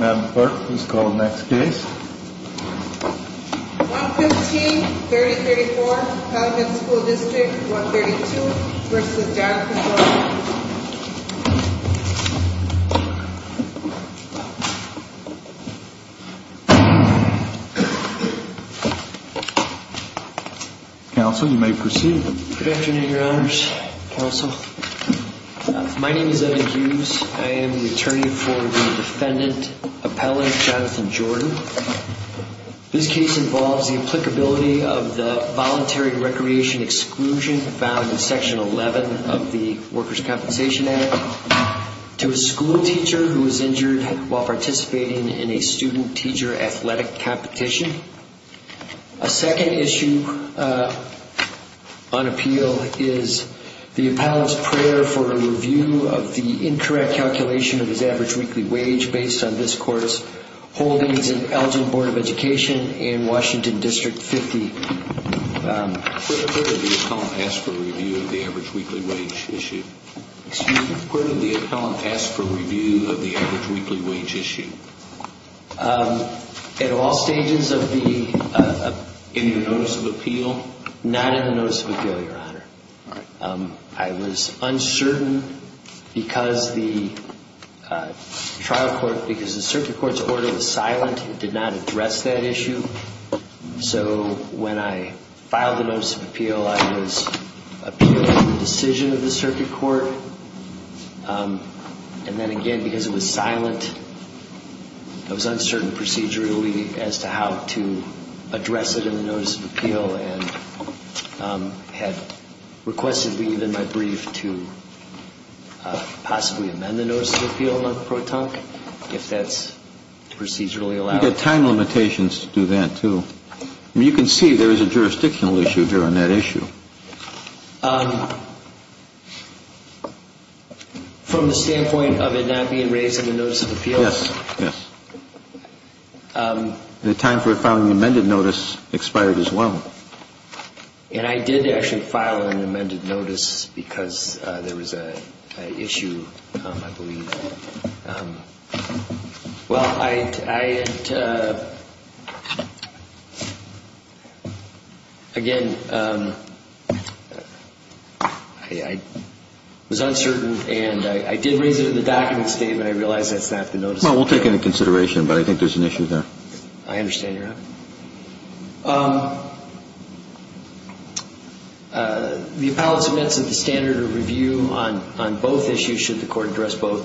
Madam Clerk, please call the next case. 115-3034, Calumet School District 132 v. Dialog Control. Counsel, you may proceed. Good afternoon, Your Honors. Counsel. My name is Evan Hughes. I am the attorney for the defendant, Appellant Jonathan Jordan. This case involves the applicability of the Voluntary Recreation Exclusion found in Section 11 of the Workers' Compensation Act to a school teacher who was injured while participating in a student-teacher athletic competition. A second issue on appeal is the appellant's prayer for a review of the incorrect calculation of his average weekly wage based on this court's holdings in Elgin Board of Education in Washington District 50. Where did the appellant ask for a review of the average weekly wage issue? Excuse me? Where did the appellant ask for a review of the average weekly wage issue? At all stages in the notice of appeal. Not in the notice of appeal, Your Honor. I was uncertain because the circuit court's order was silent. It did not address that issue. So when I filed the notice of appeal, I was appealing the decision of the circuit court. And then again, because it was silent, it was uncertain procedurally as to how to address it in the notice of appeal and had requested leave in my brief to possibly amend the notice of appeal on the pro tonque, if that's procedurally allowed. You get time limitations to do that, too. You can see there is a jurisdictional issue here on that issue. From the standpoint of it not being raised in the notice of appeal? Yes. Yes. The time for filing the amended notice expired as well. And I did actually file an amended notice because there was an issue, I believe. Well, I, again, I was uncertain and I did raise it in the document statement. I realize that's not the notice of appeal. Well, we'll take into consideration, but I think there's an issue there. I understand, Your Honor. The appellants have mentioned the standard of review on both issues, should the court address both.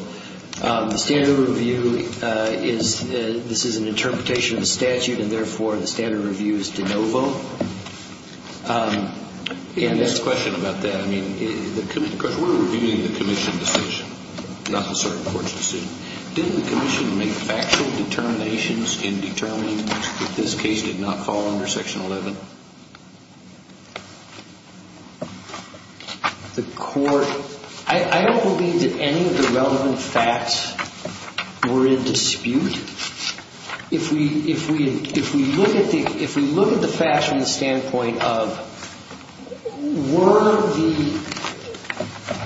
The standard of review is, this is an interpretation of the statute, and therefore, the standard of review is to no vote. And this question about that, I mean, because we're reviewing the commission decision, not the circuit court's decision. Did the commission make factual determinations in determining that this case did not fall under Section 11? The court, I don't believe that any of the relevant facts were in dispute. If we look at the facts from the standpoint of were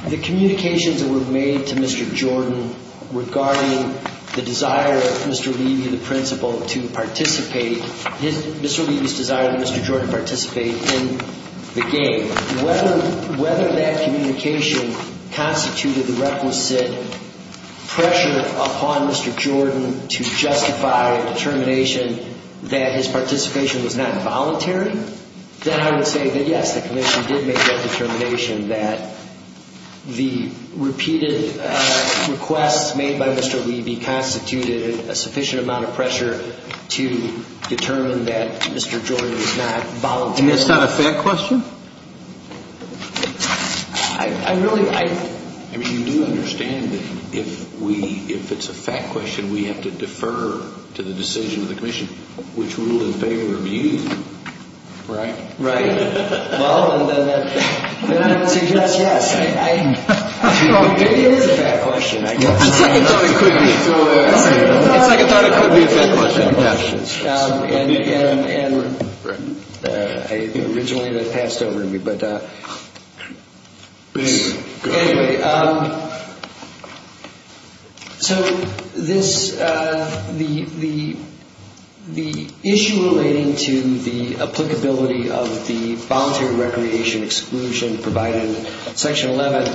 the communications that were made to Mr. Jordan regarding the desire of Mr. Levy, the principal, to participate, Mr. Levy's desire that Mr. Jordan participate in the game, whether that communication constituted the requisite pressure upon Mr. Jordan to participate in the game, I don't believe that any of the relevant facts were in dispute. If the commission did justify a determination that his participation was not voluntary, then I would say that, yes, the commission did make that determination that the repeated requests made by Mr. Levy constituted a sufficient amount of pressure to determine that Mr. Jordan was not voluntary. And that's not a fact question? I mean, you do understand that if it's a fact question, we have to defer to the decision of the commission which rule in favor of you, right? Right. Well, then I would suggest, yes, I don't think it is a fact question. It's like I thought it could be a fact question. And originally that passed over to me, but anyway, so this, the issue relating to the applicability of the voluntary recreation exclusion provided in Section 11,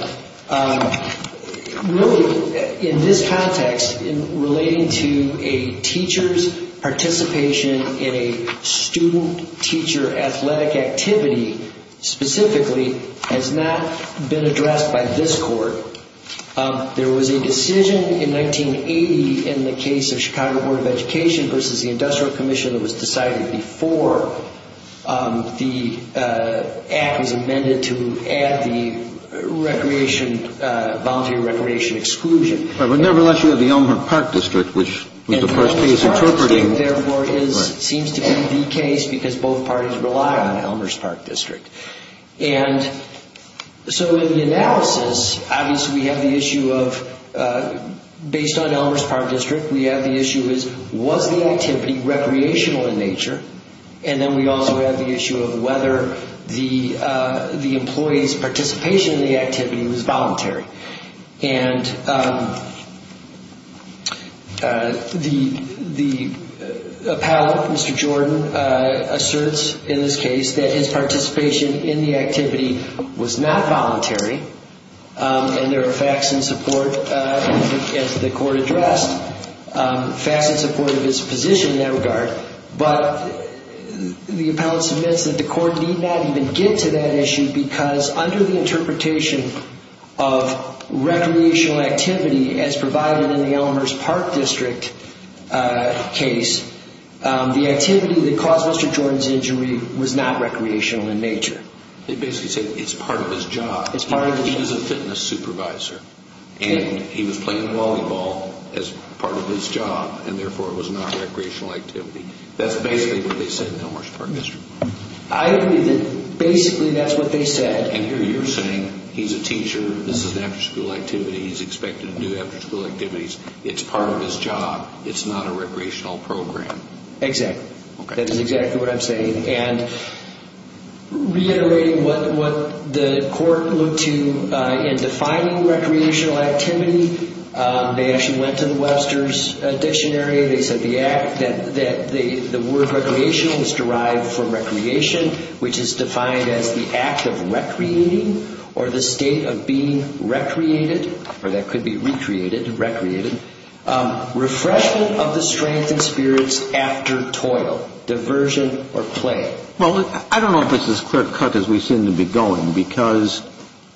really in this context, in relating to a teacher's participation in a student-teacher athletic activity specifically has not been addressed by this court. There was a decision in 1980 in the case of Chicago Board of Education versus the Industrial Commission that was decided before the act was amended to add the recreation, voluntary recreation exclusion. But nevertheless, you have the Elmhurst Park District, which was the first case interpreting. And the Elmhurst Park District, therefore, seems to be the case because both parties rely on the Elmhurst Park District. And so in the analysis, obviously we have the issue of, based on the Elmhurst Park District, we have the issue of was the activity recreational in nature, and then we also have the issue of whether the employee's participation in the activity was voluntary. The appellate, Mr. Jordan, asserts in this case that his participation in the activity was not voluntary, and there are facts in support, as the court addressed, facts in support of his position in that regard. But the appellate submits that the court need not even get to that issue because under the interpretation of recreational activity as a voluntary activity, it is not voluntary. As provided in the Elmhurst Park District case, the activity that caused Mr. Jordan's injury was not recreational in nature. They basically say it's part of his job. He was a fitness supervisor, and he was playing volleyball as part of his job, and therefore it was not recreational activity. That's basically what they said in the Elmhurst Park District. I agree that basically that's what they said. And you're saying he's a teacher, this is an after-school activity, he's expected to do after-school activities, it's part of his job, it's not a recreational program. Exactly. That is exactly what I'm saying. And reiterating what the court looked to in defining recreational activity, they actually went to the Webster's Dictionary, they said the word recreational is derived from recreation, which is defined as the act of recreating, or the state of being recreated, or that could be recreated, recreated. Refreshment of the strength and spirits after toil, diversion, or play. Well, I don't know if this is as clear-cut as we seem to be going, because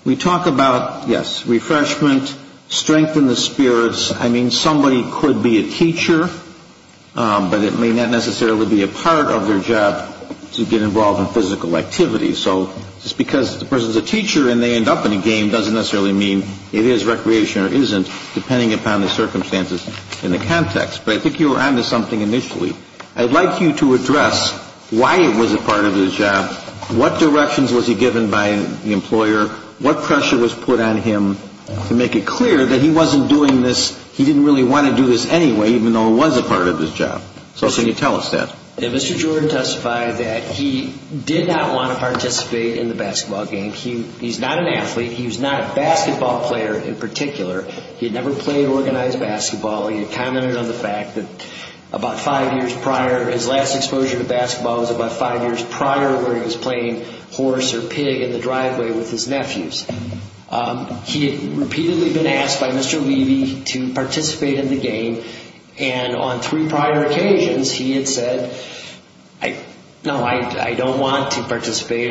we talk about, yes, refreshment, strengthen the spirits. I mean, somebody could be a teacher, but it may not necessarily be a part of their job to get involved in physical activity. So just because the person's a teacher and they end up in a game doesn't necessarily mean it is recreation or isn't, depending upon the circumstances. In the context, but I think you were on to something initially. I'd like you to address why it was a part of his job, what directions was he given by the employer, what pressure was put on him to make it clear that he wasn't doing this, he didn't really want to do this anyway, even though it was a part of his job. So can you tell us that? Mr. Jordan testified that he did not want to participate in the basketball game. He's not an athlete, he was not a basketball player in particular. He had never played organized basketball. He had commented on the fact that about five years prior, his last exposure to basketball was about five years prior where he was playing horse or pig in the driveway with his nephews. He had repeatedly been asked by Mr. Levy to participate in the game, and on three prior occasions he had said, no, I don't want to participate,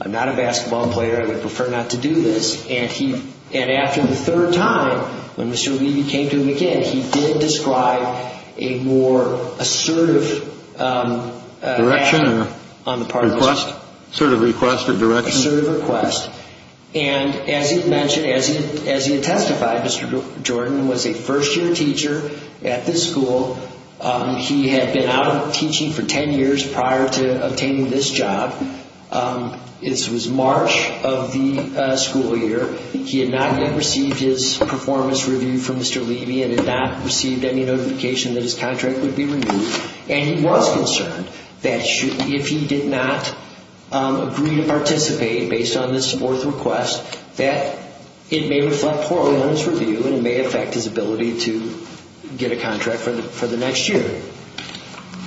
I'm not a basketball player, I would prefer not to do this. And after the third time, when Mr. Levy came to him again, he did describe a more assertive action on the part of his boss. Assertive request or direction? Assertive request. And as he had testified, Mr. Jordan was a first-year teacher at this school. He had been out of teaching for ten years prior to obtaining this job. This was March of the school year. He had not yet received his performance review from Mr. Levy and had not received any notification that his contract would be removed. And he was concerned that if he did not agree to participate based on this fourth request, that it may reflect poorly on his review and it may affect his ability to get a contract for the next year.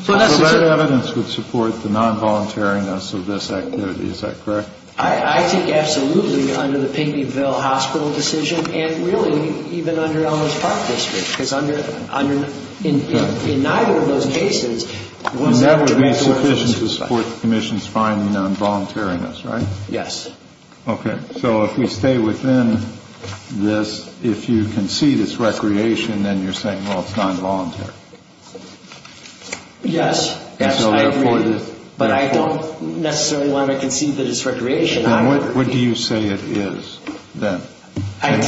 So that evidence would support the non-voluntariness of this activity, is that correct? I think absolutely, under the Pinckneyville Hospital decision and really even under Elmhurst Park District, because in neither of those cases... And that would be sufficient to support the Commission's finding on voluntariness, right? Yes. Okay, so if we stay within this, if you concede it's recreation, then you're saying, well, it's non-voluntary. Yes, I agree, but I don't necessarily want to concede that it's recreation either. Then what do you say it is? And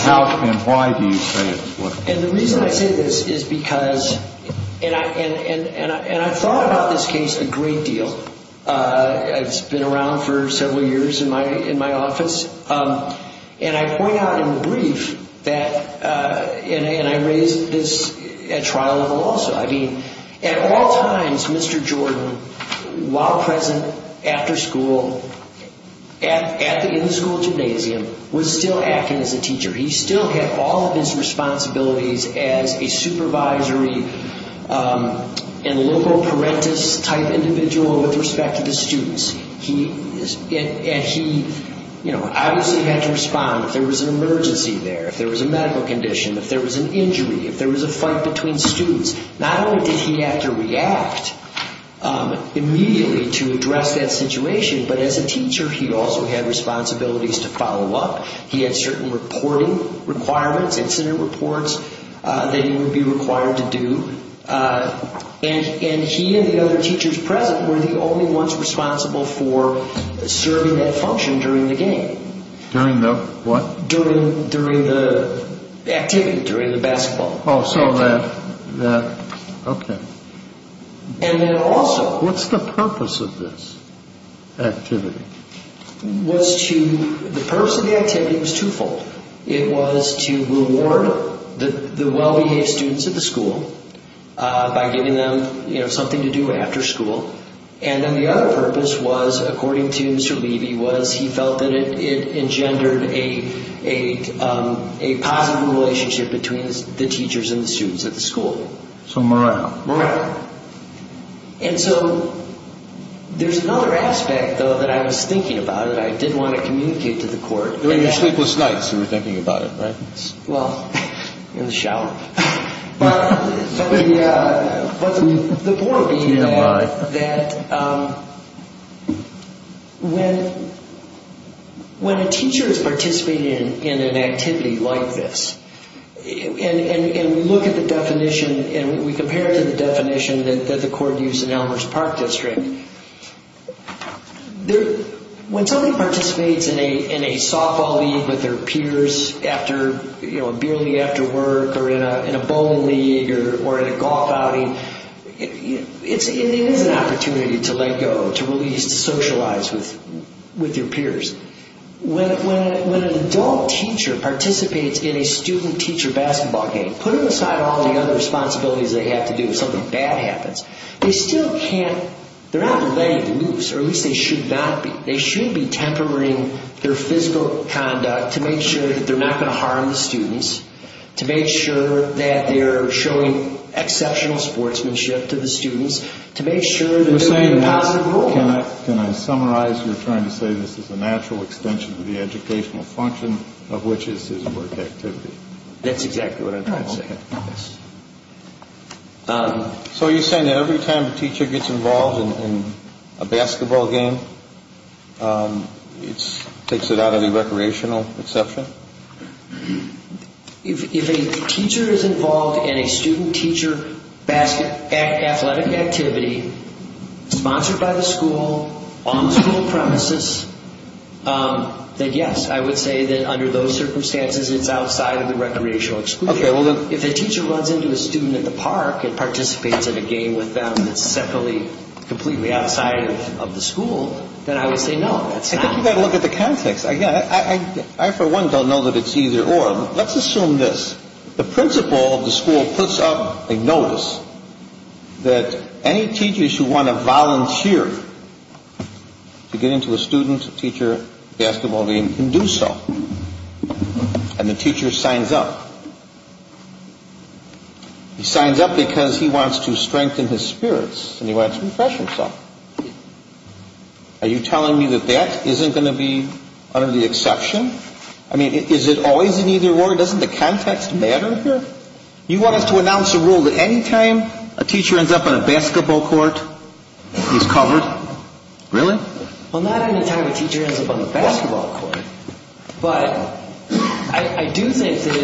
why do you say it is? And the reason I say this is because, and I've thought about this case a great deal. It's been around for several years in my office. And I point out in the brief that, and I raised this at trial level also. I mean, at all times, Mr. Jordan, while present after school, in the school gymnasium, was still acting as a teacher. He still had all of his responsibilities as a supervisory and liberal parentis-type individual with respect to the students. And he obviously had to respond if there was an emergency there, if there was a medical condition, if there was an injury, if there was a fight between students. Not only did he have to react immediately to address that situation, but as a teacher he also had responsibilities to follow up. He had certain reporting requirements, incident reports that he would be required to do. And he and the other teachers present were the only ones responsible for serving that function during the game. During the what? During the activity, during the basketball activity. Oh, so that, okay. And then also... What's the purpose of this activity? The purpose of the activity was twofold. It was to reward the well-behaved students at the school by giving them something to do after school. And then the other purpose was, according to Mr. Levy, was he felt that it engendered a positive relationship between the teachers and the students at the school. So morale. Morale. And so there's another aspect, though, that I was thinking about that I did want to communicate to the court. During your sleepless nights, you were thinking about it, right? Well, in the shower. But the point would be that when a teacher is participating in an activity like this, and we look at the definition and we compare it to the definition that the court used in Elmer's Park District, when somebody participates in a softball league with their peers after, you know, a beer league after work, or in a bowling league, or in a golf outing, it is an opportunity to let go, to release, to socialize with your peers. When an adult teacher participates in a student-teacher basketball game, put aside all the other responsibilities they have to do if something bad happens. They still can't, they're not letting loose, or at least they should not be. They should be tempering their physical conduct to make sure that they're not going to harm the students, to make sure that they're showing exceptional sportsmanship to the students, to make sure that they're doing a positive role. Can I summarize? You're trying to say this is a natural extension of the educational function of which is his work activity. That's exactly what I'm trying to say. So you're saying that every time a teacher gets involved in a basketball game, it takes it out of the recreational exception? If a teacher is involved in a student-teacher athletic activity, sponsored by the school, on the school premises, then yes, I would say that under those circumstances, it's outside of the recreational exclusion. If a teacher runs into a student at the park and participates in a game with them that's separately, completely outside of the school, then I would say no, that's not. I think you've got to look at the context. I for one don't know that it's either or. Let's assume this. The principal of the school puts up a notice that any teachers who want to volunteer to get into a student-teacher basketball game can do so. And the teacher signs up. He signs up because he wants to strengthen his spirits and he wants to refresh himself. Are you telling me that that isn't going to be under the exception? I mean, is it always an either or? Doesn't the context matter here? You want us to announce a rule that any time a teacher ends up on a basketball court, he's covered? Really? Well, not any time a teacher ends up on a basketball court. But I do think that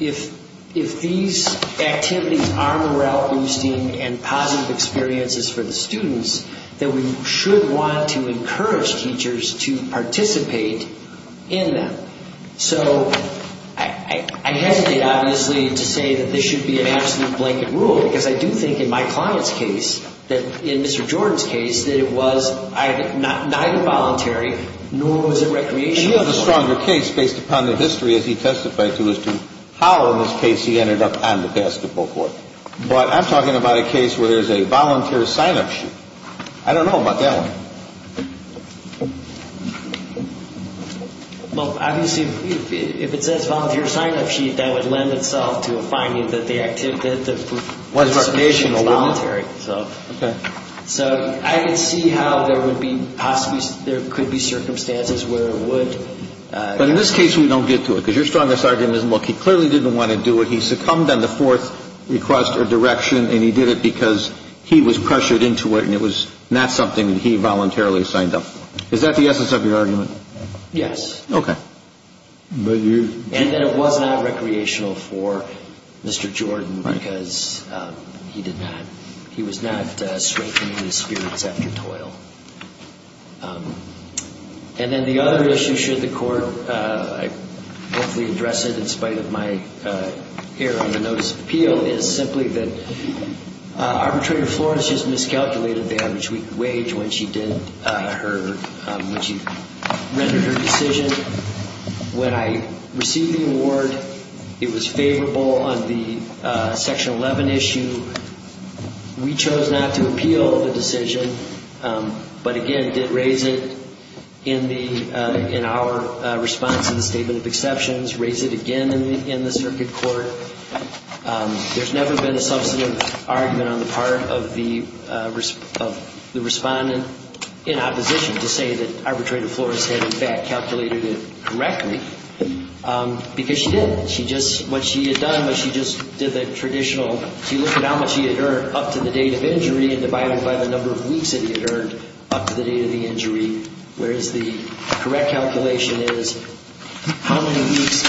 if these activities are morale-boosting and positive experiences for the students, that we should want to encourage teachers to participate in them. So I hesitate, obviously, to say that this should be an absolute blanket rule, because I do think in my client's case, in Mr. Jordan's case, that it was either or. Neither voluntary, nor was it recreational. He has a stronger case based upon the history, as he testified to, as to how, in this case, he ended up on the basketball court. But I'm talking about a case where there's a volunteer sign-up sheet. I don't know about that one. Well, obviously, if it says volunteer sign-up sheet, that would lend itself to a finding that the participation was voluntary. So I can see how there could be circumstances where it would. But in this case, we don't get to it, because your strongest argument is, look, he clearly didn't want to do it. He succumbed on the fourth request or direction, and he did it because he was pressured into it, and it was not something that he voluntarily signed up for. Is that the essence of your argument? Yes. Okay. And that it was not recreational for Mr. Jordan, because he did not. He was not strengthening his spirits after toil. And then the other issue, should the Court hopefully address it, in spite of my error in the notice of appeal, is simply that Arbitrator Florence has miscalculated the average wage when she rendered her decision. When I received the award, it was favorable on the Section 11 issue. We chose not to appeal the decision, but, again, did raise it in our response in the statement of exceptions, raised it again in the circuit court. There's never been a substantive argument on the part of the respondent in opposition to say that Arbitrator Florence had, in fact, calculated an average wage. She did not calculate it correctly, because she did. She just, what she had done was she just did the traditional, she looked at how much he had earned up to the date of injury and divided it by the number of weeks that he had earned up to the date of the injury, whereas the correct calculation is how many weeks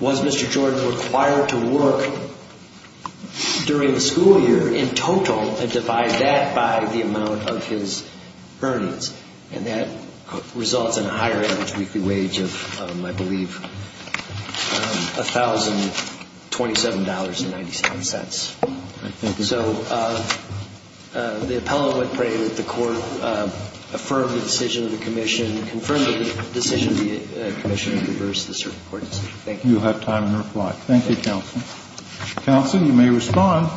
was Mr. Jordan required to work during the school year in total and divide that by the amount of his earnings. And that results in a higher average weekly wage of, I believe, $1,027.97. So the appellant would pray that the Court affirm the decision of the commission, confirm the decision of the commission, and reverse the circuit court decision. Thank you. Thank you, counsel. Counsel, you may respond.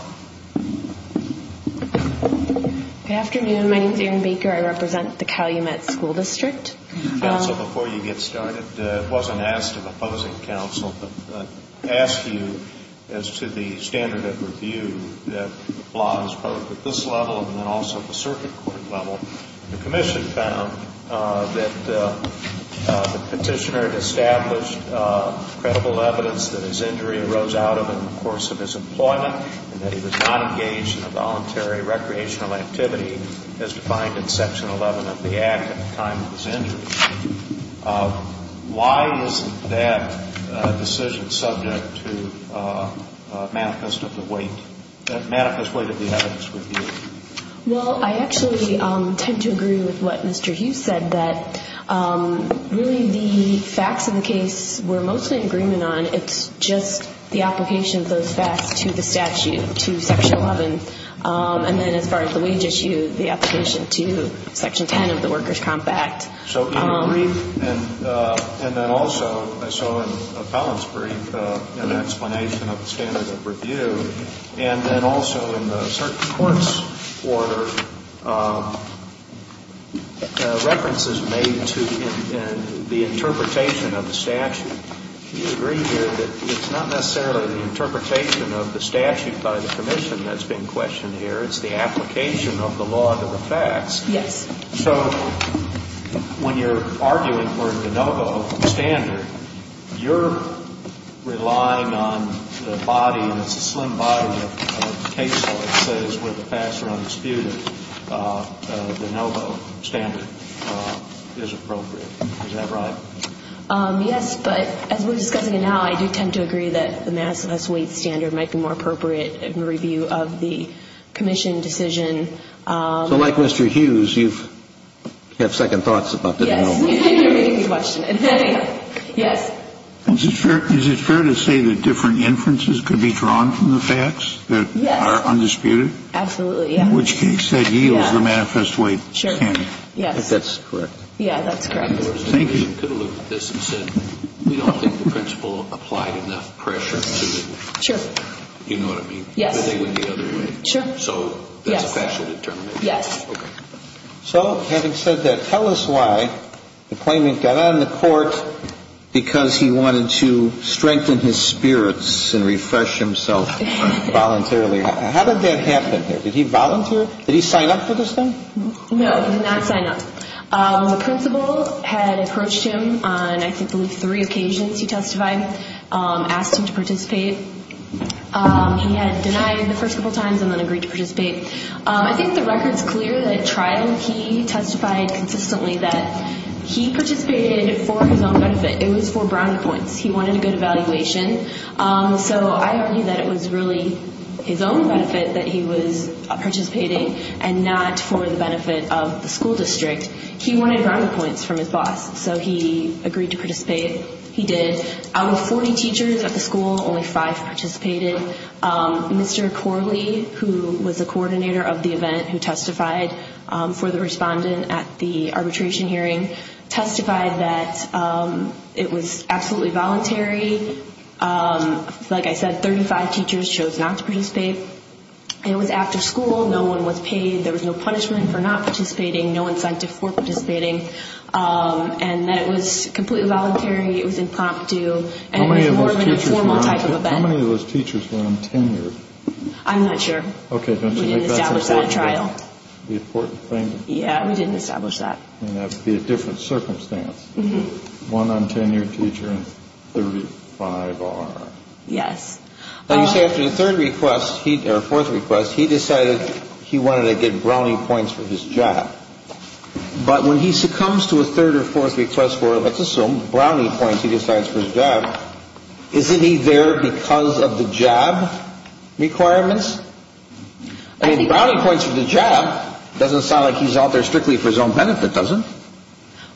Good afternoon. My name is Erin Baker. I represent the Calumet School District. Counsel, before you get started, it wasn't asked of opposing counsel, but asked you as to the standard of review that applies both at this level and then also at the circuit court level. The commission found that the petitioner had established credible evidence that his injury arose out of in the course of his employment and that he was not engaged in a voluntary recreational activity as defined in Section 11 of the Act at the time of his injury. Why isn't that decision subject to manifest of the weight, manifest weight of the evidence review? Well, I actually tend to agree with what Mr. Hughes said, that really the facts of the case we're mostly in agreement on. It's just the application of those facts to the statute, to Section 11. And then as far as the wage issue, the application to Section 10 of the Workers' Comp Act. So in the brief, and then also I saw in the appellant's brief an explanation of the standard of review. And then also in the circuit court's order, references made to the interpretation of the statute. Do you agree here that it's not necessarily the interpretation of the statute by the commission that's being questioned here? It's the application of the law to the facts. Yes. So when you're arguing for a de novo standard, you're relying on the body, and it's a slender body. It's a case where it says where the facts are undisputed, the de novo standard is appropriate. Is that right? Yes. But as we're discussing it now, I do tend to agree that the manifest weight standard might be more appropriate in review of the commission decision. So like Mr. Hughes, you have second thoughts about de novo? Yes. You're making me question it. Yes. Is it fair to say that different inferences could be drawn from the facts that are undisputed? Yes. Absolutely, yes. In which case that yields the manifest weight standard. Yes. I think that's correct. Yeah, that's correct. Thank you. You could have looked at this and said we don't think the principle applied enough pressure to it. Sure. You know what I mean? Yes. But they went the other way. Sure. Yes. So having said that, tell us why the claimant got on the court because he wanted to strengthen his spirits and refresh himself voluntarily. How did that happen? Did he volunteer? Did he sign up for this thing? No, he did not sign up. The principle had approached him on I think three occasions, he testified, asked him to participate. He had denied the fourth time. He had denied the fifth time. He had denied the sixth time. He had denied the seventh time and agreed to participate. I think the record is clear that at trial he testified consistently that he participated for his own benefit. It was for brownie points. He wanted a good evaluation. So I argue that it was really his own benefit that he was participating and not for the benefit of the school district. He wanted brownie points from his boss. So he agreed to participate. He did. Out of 40 teachers at the school, only five participated. He did not participate. He did not participate. He did not participate. He did not participate. He was a coordinator of the event who testified for the respondent at the arbitration hearing. Testified that it was absolutely voluntary. Like I said, 35 teachers chose not to participate. It was after school. No one was paid. There was no punishment for not participating. No incentive for participating. And that it was completely voluntary. It was impromptu. It was more of a formal type of event. How many of those teachers were on tenure? I'm not sure. I'm not sure. Did he have any friends? Okay, don't you think that's important? We didn't establish that at trial. Yeah, we didn't establish that. That would be a different circumstance. One on tenure teacher and 35R. Yes. Now you say after the third request, or fourth request, he decided he wanted to get brownie points for his job. But when he succumbs to a third or fourth request for, let's assume, brownie points he decides for his job, isn't he there because of the job requirements? I mean, the brownie points for the job doesn't sound like he's out there strictly for his own benefit, does it?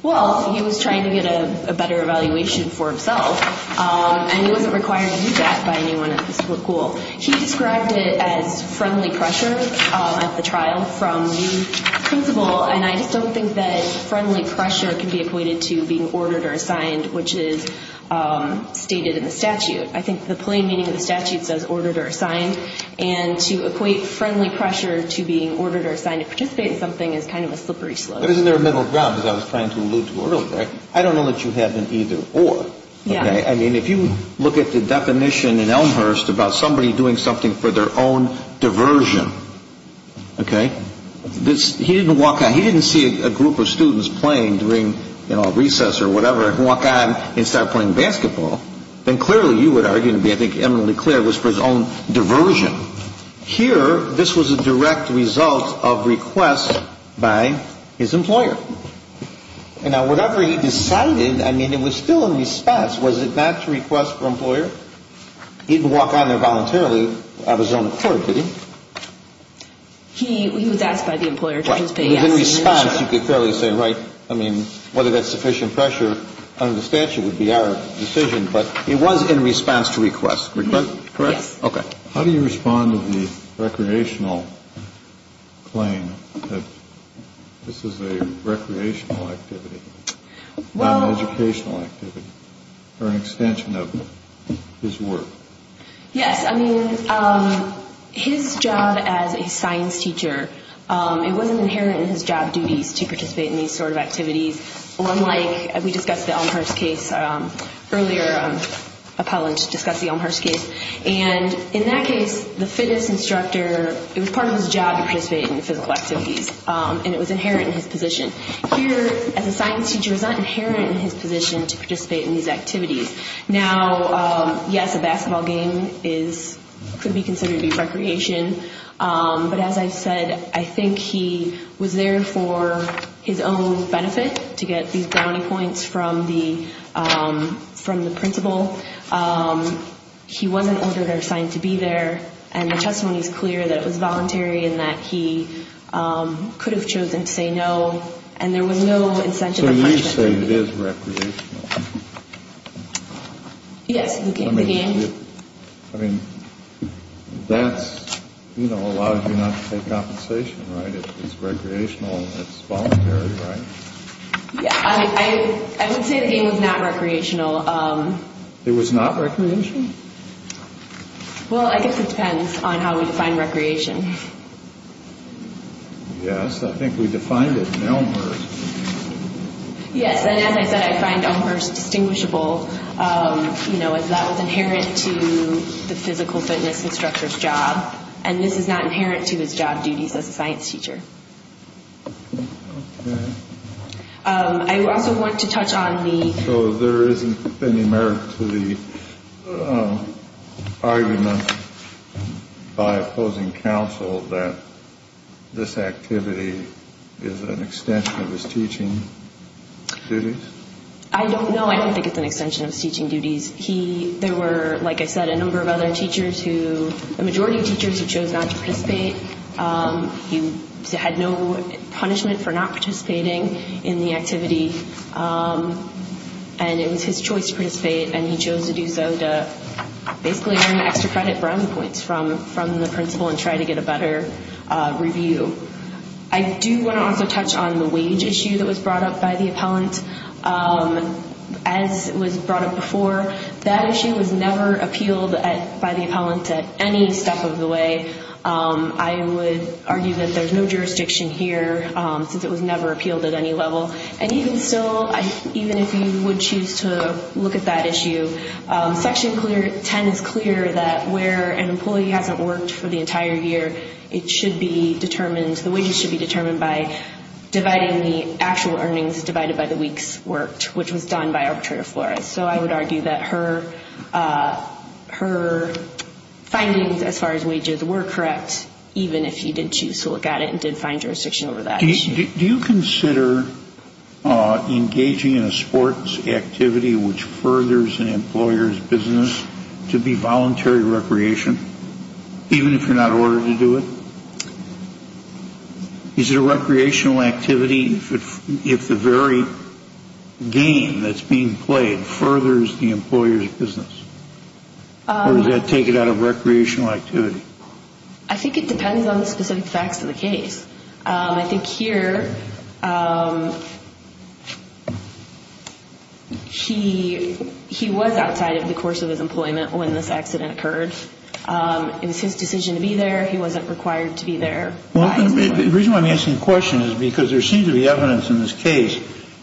Well, he was trying to get a better evaluation for himself, and he wasn't required to do that by anyone at the school. He described it as friendly pressure at the trial from the principal, and I just don't think that friendly pressure can be equated to being ordered or assigned, which is stated in the statute. I think the plain meaning of the statute says ordered or assigned, and to equate friendly pressure to being ordered or assigned to participate in something is kind of a slippery slope. But isn't there a middle ground, as I was trying to allude to earlier? I don't know that you have an either or. I mean, if you look at the definition in Elmhurst about somebody doing something for their own diversion, he didn't walk on, he didn't see a group of students playing during a recess or whatever and walk on and start playing basketball, then clearly you would argue, I think eminently clear, it was for his own diversion. Here, this was a direct result of requests by his employer. And now, whatever he decided, I mean, it was still in response. Was it not to request for an employer? He didn't walk on there voluntarily of his own accord, did he? He was asked by the employer to his pay. In response, you could clearly say, right, I mean, whether that's sufficient pressure under the statute would be our decision, but it was in response to requests. Correct? Yes. How do you respond to the recreational claim that this is a recreational activity not an educational activity for an extension of his work? Yes, I mean, his job as a science teacher, it wasn't inherent in his job duties to participate in these sort of activities, unlike we discussed the Elmhurst case earlier, Apollo discussed the Elmhurst case, and in that case, the fitness instructor, it was part of his job to participate in the physical activities, and it was inherent in his position. Here, as a science teacher, it's not inherent in his position to participate in these activities. Now, yes, a basketball game could be considered to be recreation, but as I said, I think he was there for his own benefit to get these brownie points from the principal. He wasn't ordered or assigned to be there, and the testimony is clear that it was voluntary and that he could have chosen to say no, and there was no incentive of punishment. So you say it is recreational. Yes, the game. I mean, that's, you know, allows you not to take compensation, right? It's recreational, it's voluntary, right? I would say the game was not recreational. It was not recreational? Well, I guess it depends on how we define recreation. Yes, I think we defined it in Elmhurst. Yes, and as I said, I find Elmhurst distinguishable, you know, as that was inherent to the physical fitness instructor's job, and this is not inherent to his job duties as a science teacher. Okay. I also want to touch on the So there isn't any merit to the argument by opposing counsel that this activity is an extension of his teaching duties? No, I don't think it's an extension of his teaching duties. There were, like I said, a number of other teachers who, the majority of teachers, who chose not to participate. He had no punishment for not participating in the activity. And it was his choice to participate, and he chose to do so to basically earn extra credit brown points from the principal and try to get a better review. I do want to also touch on the wage issue that was brought up by the appellant. As was brought up before, that issue was never appealed by the appellant at any step of the way. I would argue that there's no jurisdiction here, since it was never appealed at any level. And even still, even if you would choose to look at that issue, section 10 is clear that where an employee hasn't worked for the entire year, it should be determined, the wages should be determined by dividing the actual earnings divided by the weeks worked, which was done by arbitrator Flores. So I would argue that her findings as far as wages were correct, even if he did choose to look at it and did find jurisdiction over that issue. Do you consider engaging in a sports activity which furthers an employer's business to be voluntary recreation, even if you're not ordered to do it? Is it a recreational activity if the very game that's being played furthers the employer's business? Or does that take it out of recreational activity? I think it depends on the specific facts of the case. I think here he was outside of the course of his employment when this accident occurred. It was his responsibility there. The reason why I'm asking the question is because there seems to be evidence in this case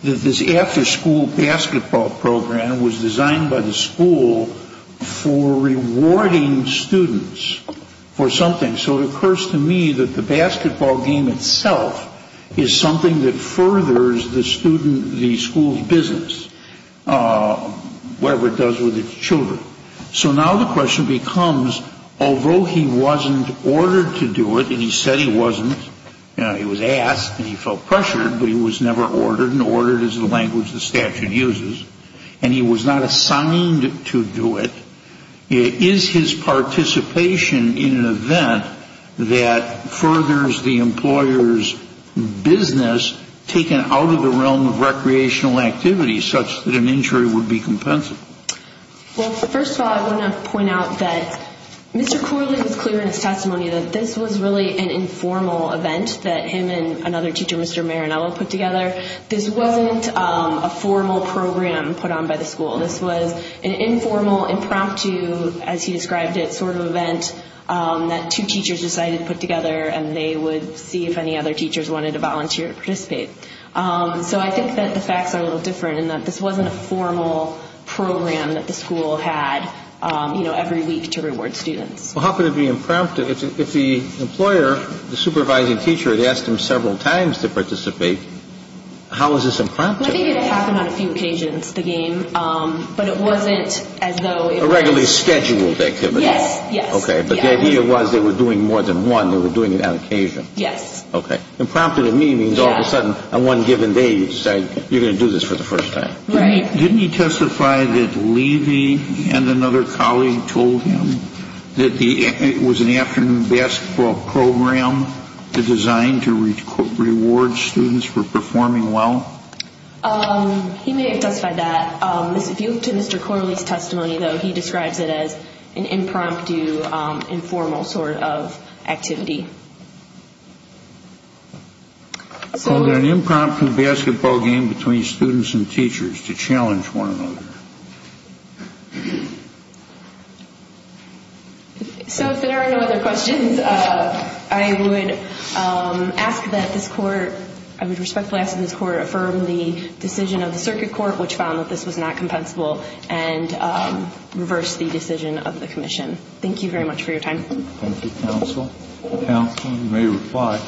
that this after-school basketball program was designed by the school for rewarding students for something. So it occurs to me that the basketball game itself is something that furthers the student, the school's business, whatever it does with its children. So now the question becomes although he wasn't ordered to do it, and he said he wasn't, he was asked, and he felt pressured, but he was never ordered. Ordered is the language the statute uses. And he was not assigned to do it. Is his participation in an event that furthers the employer's business taken out of the realm of recreational activity such that an injury would be compensable? Well, first of all, I want to point out that Mr. Corley was clear in his testimony that this was really an informal event that him and another teacher, Mr. Marinello, put together. This wasn't a formal program put on by the school. This was an informal, impromptu, as he described it, sort of event that two teachers decided to put together and they would see if any other teachers wanted to volunteer or participate. So I think that the facts are a little different in that this wasn't a formal program that the school had every week to reward students. Well, how could it be impromptu? If the employer, the supervising teacher had asked him several times to participate, how is this impromptu? I think it happened on a few occasions, the game. But it wasn't as though it was... A regularly scheduled activity. Yes, yes. Okay. But the idea was they were doing more than one. They were doing it on occasion. Yes. Okay. Impromptu to me means all of a sudden, on one given day they decide, you're going to do this for the first time. Right. Didn't he testify that Levy and another colleague told him that it was an afternoon basketball program designed to reward students for performing well? He may have testified that. If you look to Mr. Corley's testimony though, he describes it as an impromptu, informal sort of activity. Is there an impromptu basketball game between students and teachers to challenge one another? So if there are no other questions, I would ask that this Court I would respectfully ask that this Court affirm the decision of the Circuit Court which found that this was not compensable of the Commission. Thank you very much for your time. Thank you, Counsel. Counsel, you may reply.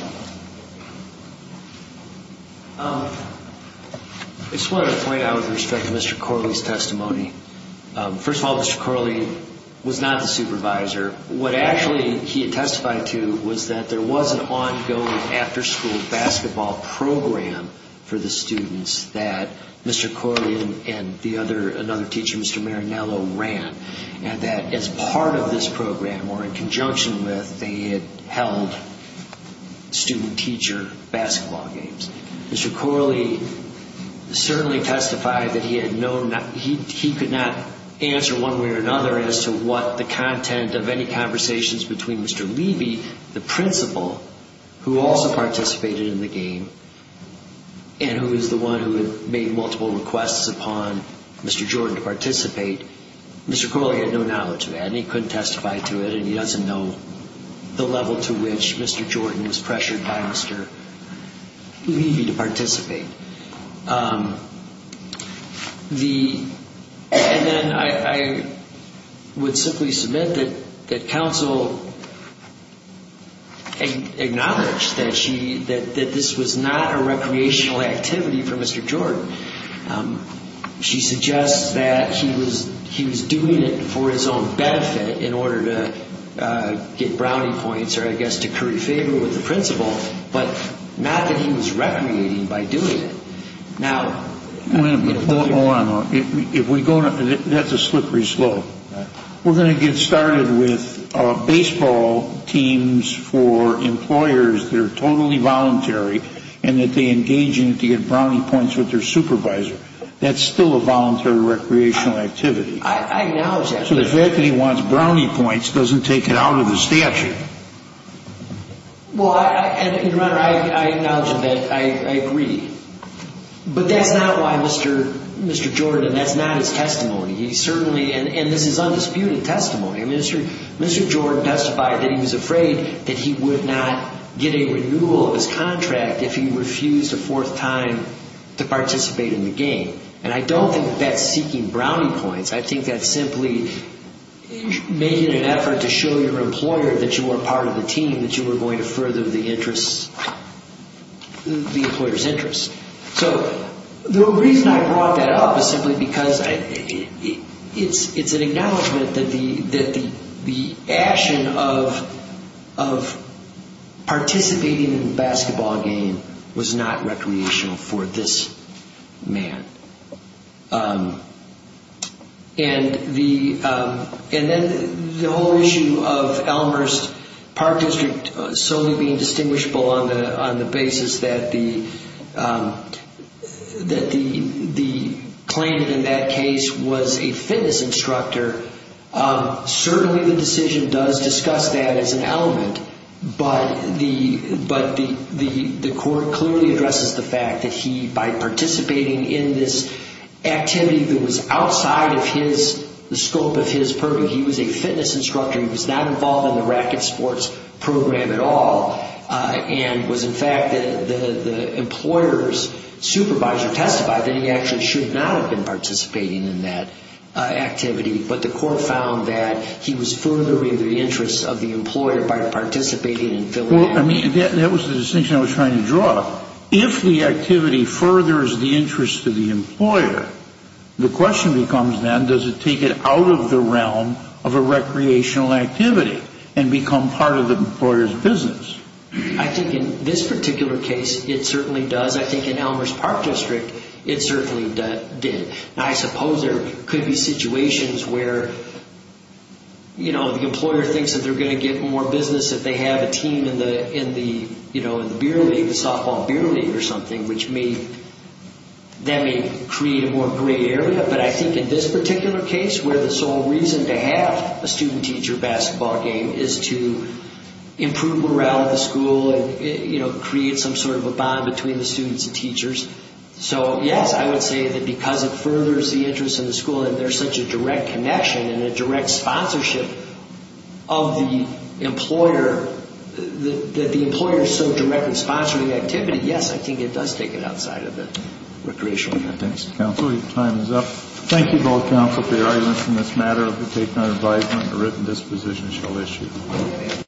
I just wanted to point out with respect to Mr. Corley's testimony first of all, Mr. Corley was not the supervisor. What actually he had testified to was that there was an ongoing after school basketball program for the students that Mr. Corley and the other another teacher, Mr. Marinello, ran and that as part of this program or in conjunction with, they had held student teacher basketball games. Mr. Corley certainly testified that he had no he could not answer one way or another as to what the content of any conversations between Mr. Leiby, the principal who also participated in the game, and who was the one who had made multiple requests upon Mr. Jordan to participate Mr. Corley had no to testify to it and he doesn't know the level to which Mr. Jordan was pressured by Mr. Leiby to participate. And then I would simply submit that Counsel acknowledged that this was not a recreational activity for Mr. Jordan. She suggests that he was doing it for his own benefit in order to get brownie points or I guess to curry favor with the principal, but not that he was recreating by doing it. Now Hold on. If we go that's a slippery slope. We're going to get started with baseball teams for employers that are totally voluntary and that they engage in it to get brownie points with their supervisor. That's still a voluntary recreational activity. I acknowledge that. So the fact that he wants brownie points doesn't take it out of the statute. Well, Your Honor, I acknowledge that I agree. But that's not why Mr. Jordan, and that's not his testimony. He certainly, and this is undisputed testimony, Mr. Jordan testified that he was afraid that he would not get a renewal of his contract if he refused a fourth time to participate in the game. And I don't think that's seeking brownie points. I think that's simply making an effort to show your employer that you were part of the team, that you were going to further the interest, the employer's interest. So the reason I brought that up is simply because it's an acknowledgement that the action of participating in the basketball game was not recreational for this man. And the whole issue of Elmer's Park District solely being distinguishable on the basis that the claim in that case was a fitness instructor, certainly the decision does discuss that as an element, but the fact that he, by participating in this activity that was outside of his, the scope of his purview, he was a fitness instructor, he was not involved in the racquet sports program at all, and was in fact the employer's supervisor testified that he actually should not have been participating in that activity, but the court found that he was furthering the interest of the employer by participating in Philadelphia. Well, I mean, that was the If the activity furthers the interest of the employer, the question becomes then, does it take it out of the realm of a recreational activity and become part of the employer's business? I think in this particular case, it certainly does. I think in Elmer's Park District, it certainly did. I suppose there could be situations where you know, the employer thinks that they're going to get more business if they have a team in the softball beer league or something, which may, that may create a more gray area, but I think in this particular case, where the sole reason to have a student-teacher basketball game is to improve morale at the school and create some sort of a bond between the students and teachers, so yes, I would say that because it furthers the interest in the school, and there's such a direct connection and a direct sponsorship of the employer, that the employer is so directly sponsoring the activity, yes, I think it does take it outside of the recreational context. Thank you both, counsel, for your arguments in this matter. If you take no advisement, a written disposition shall issue.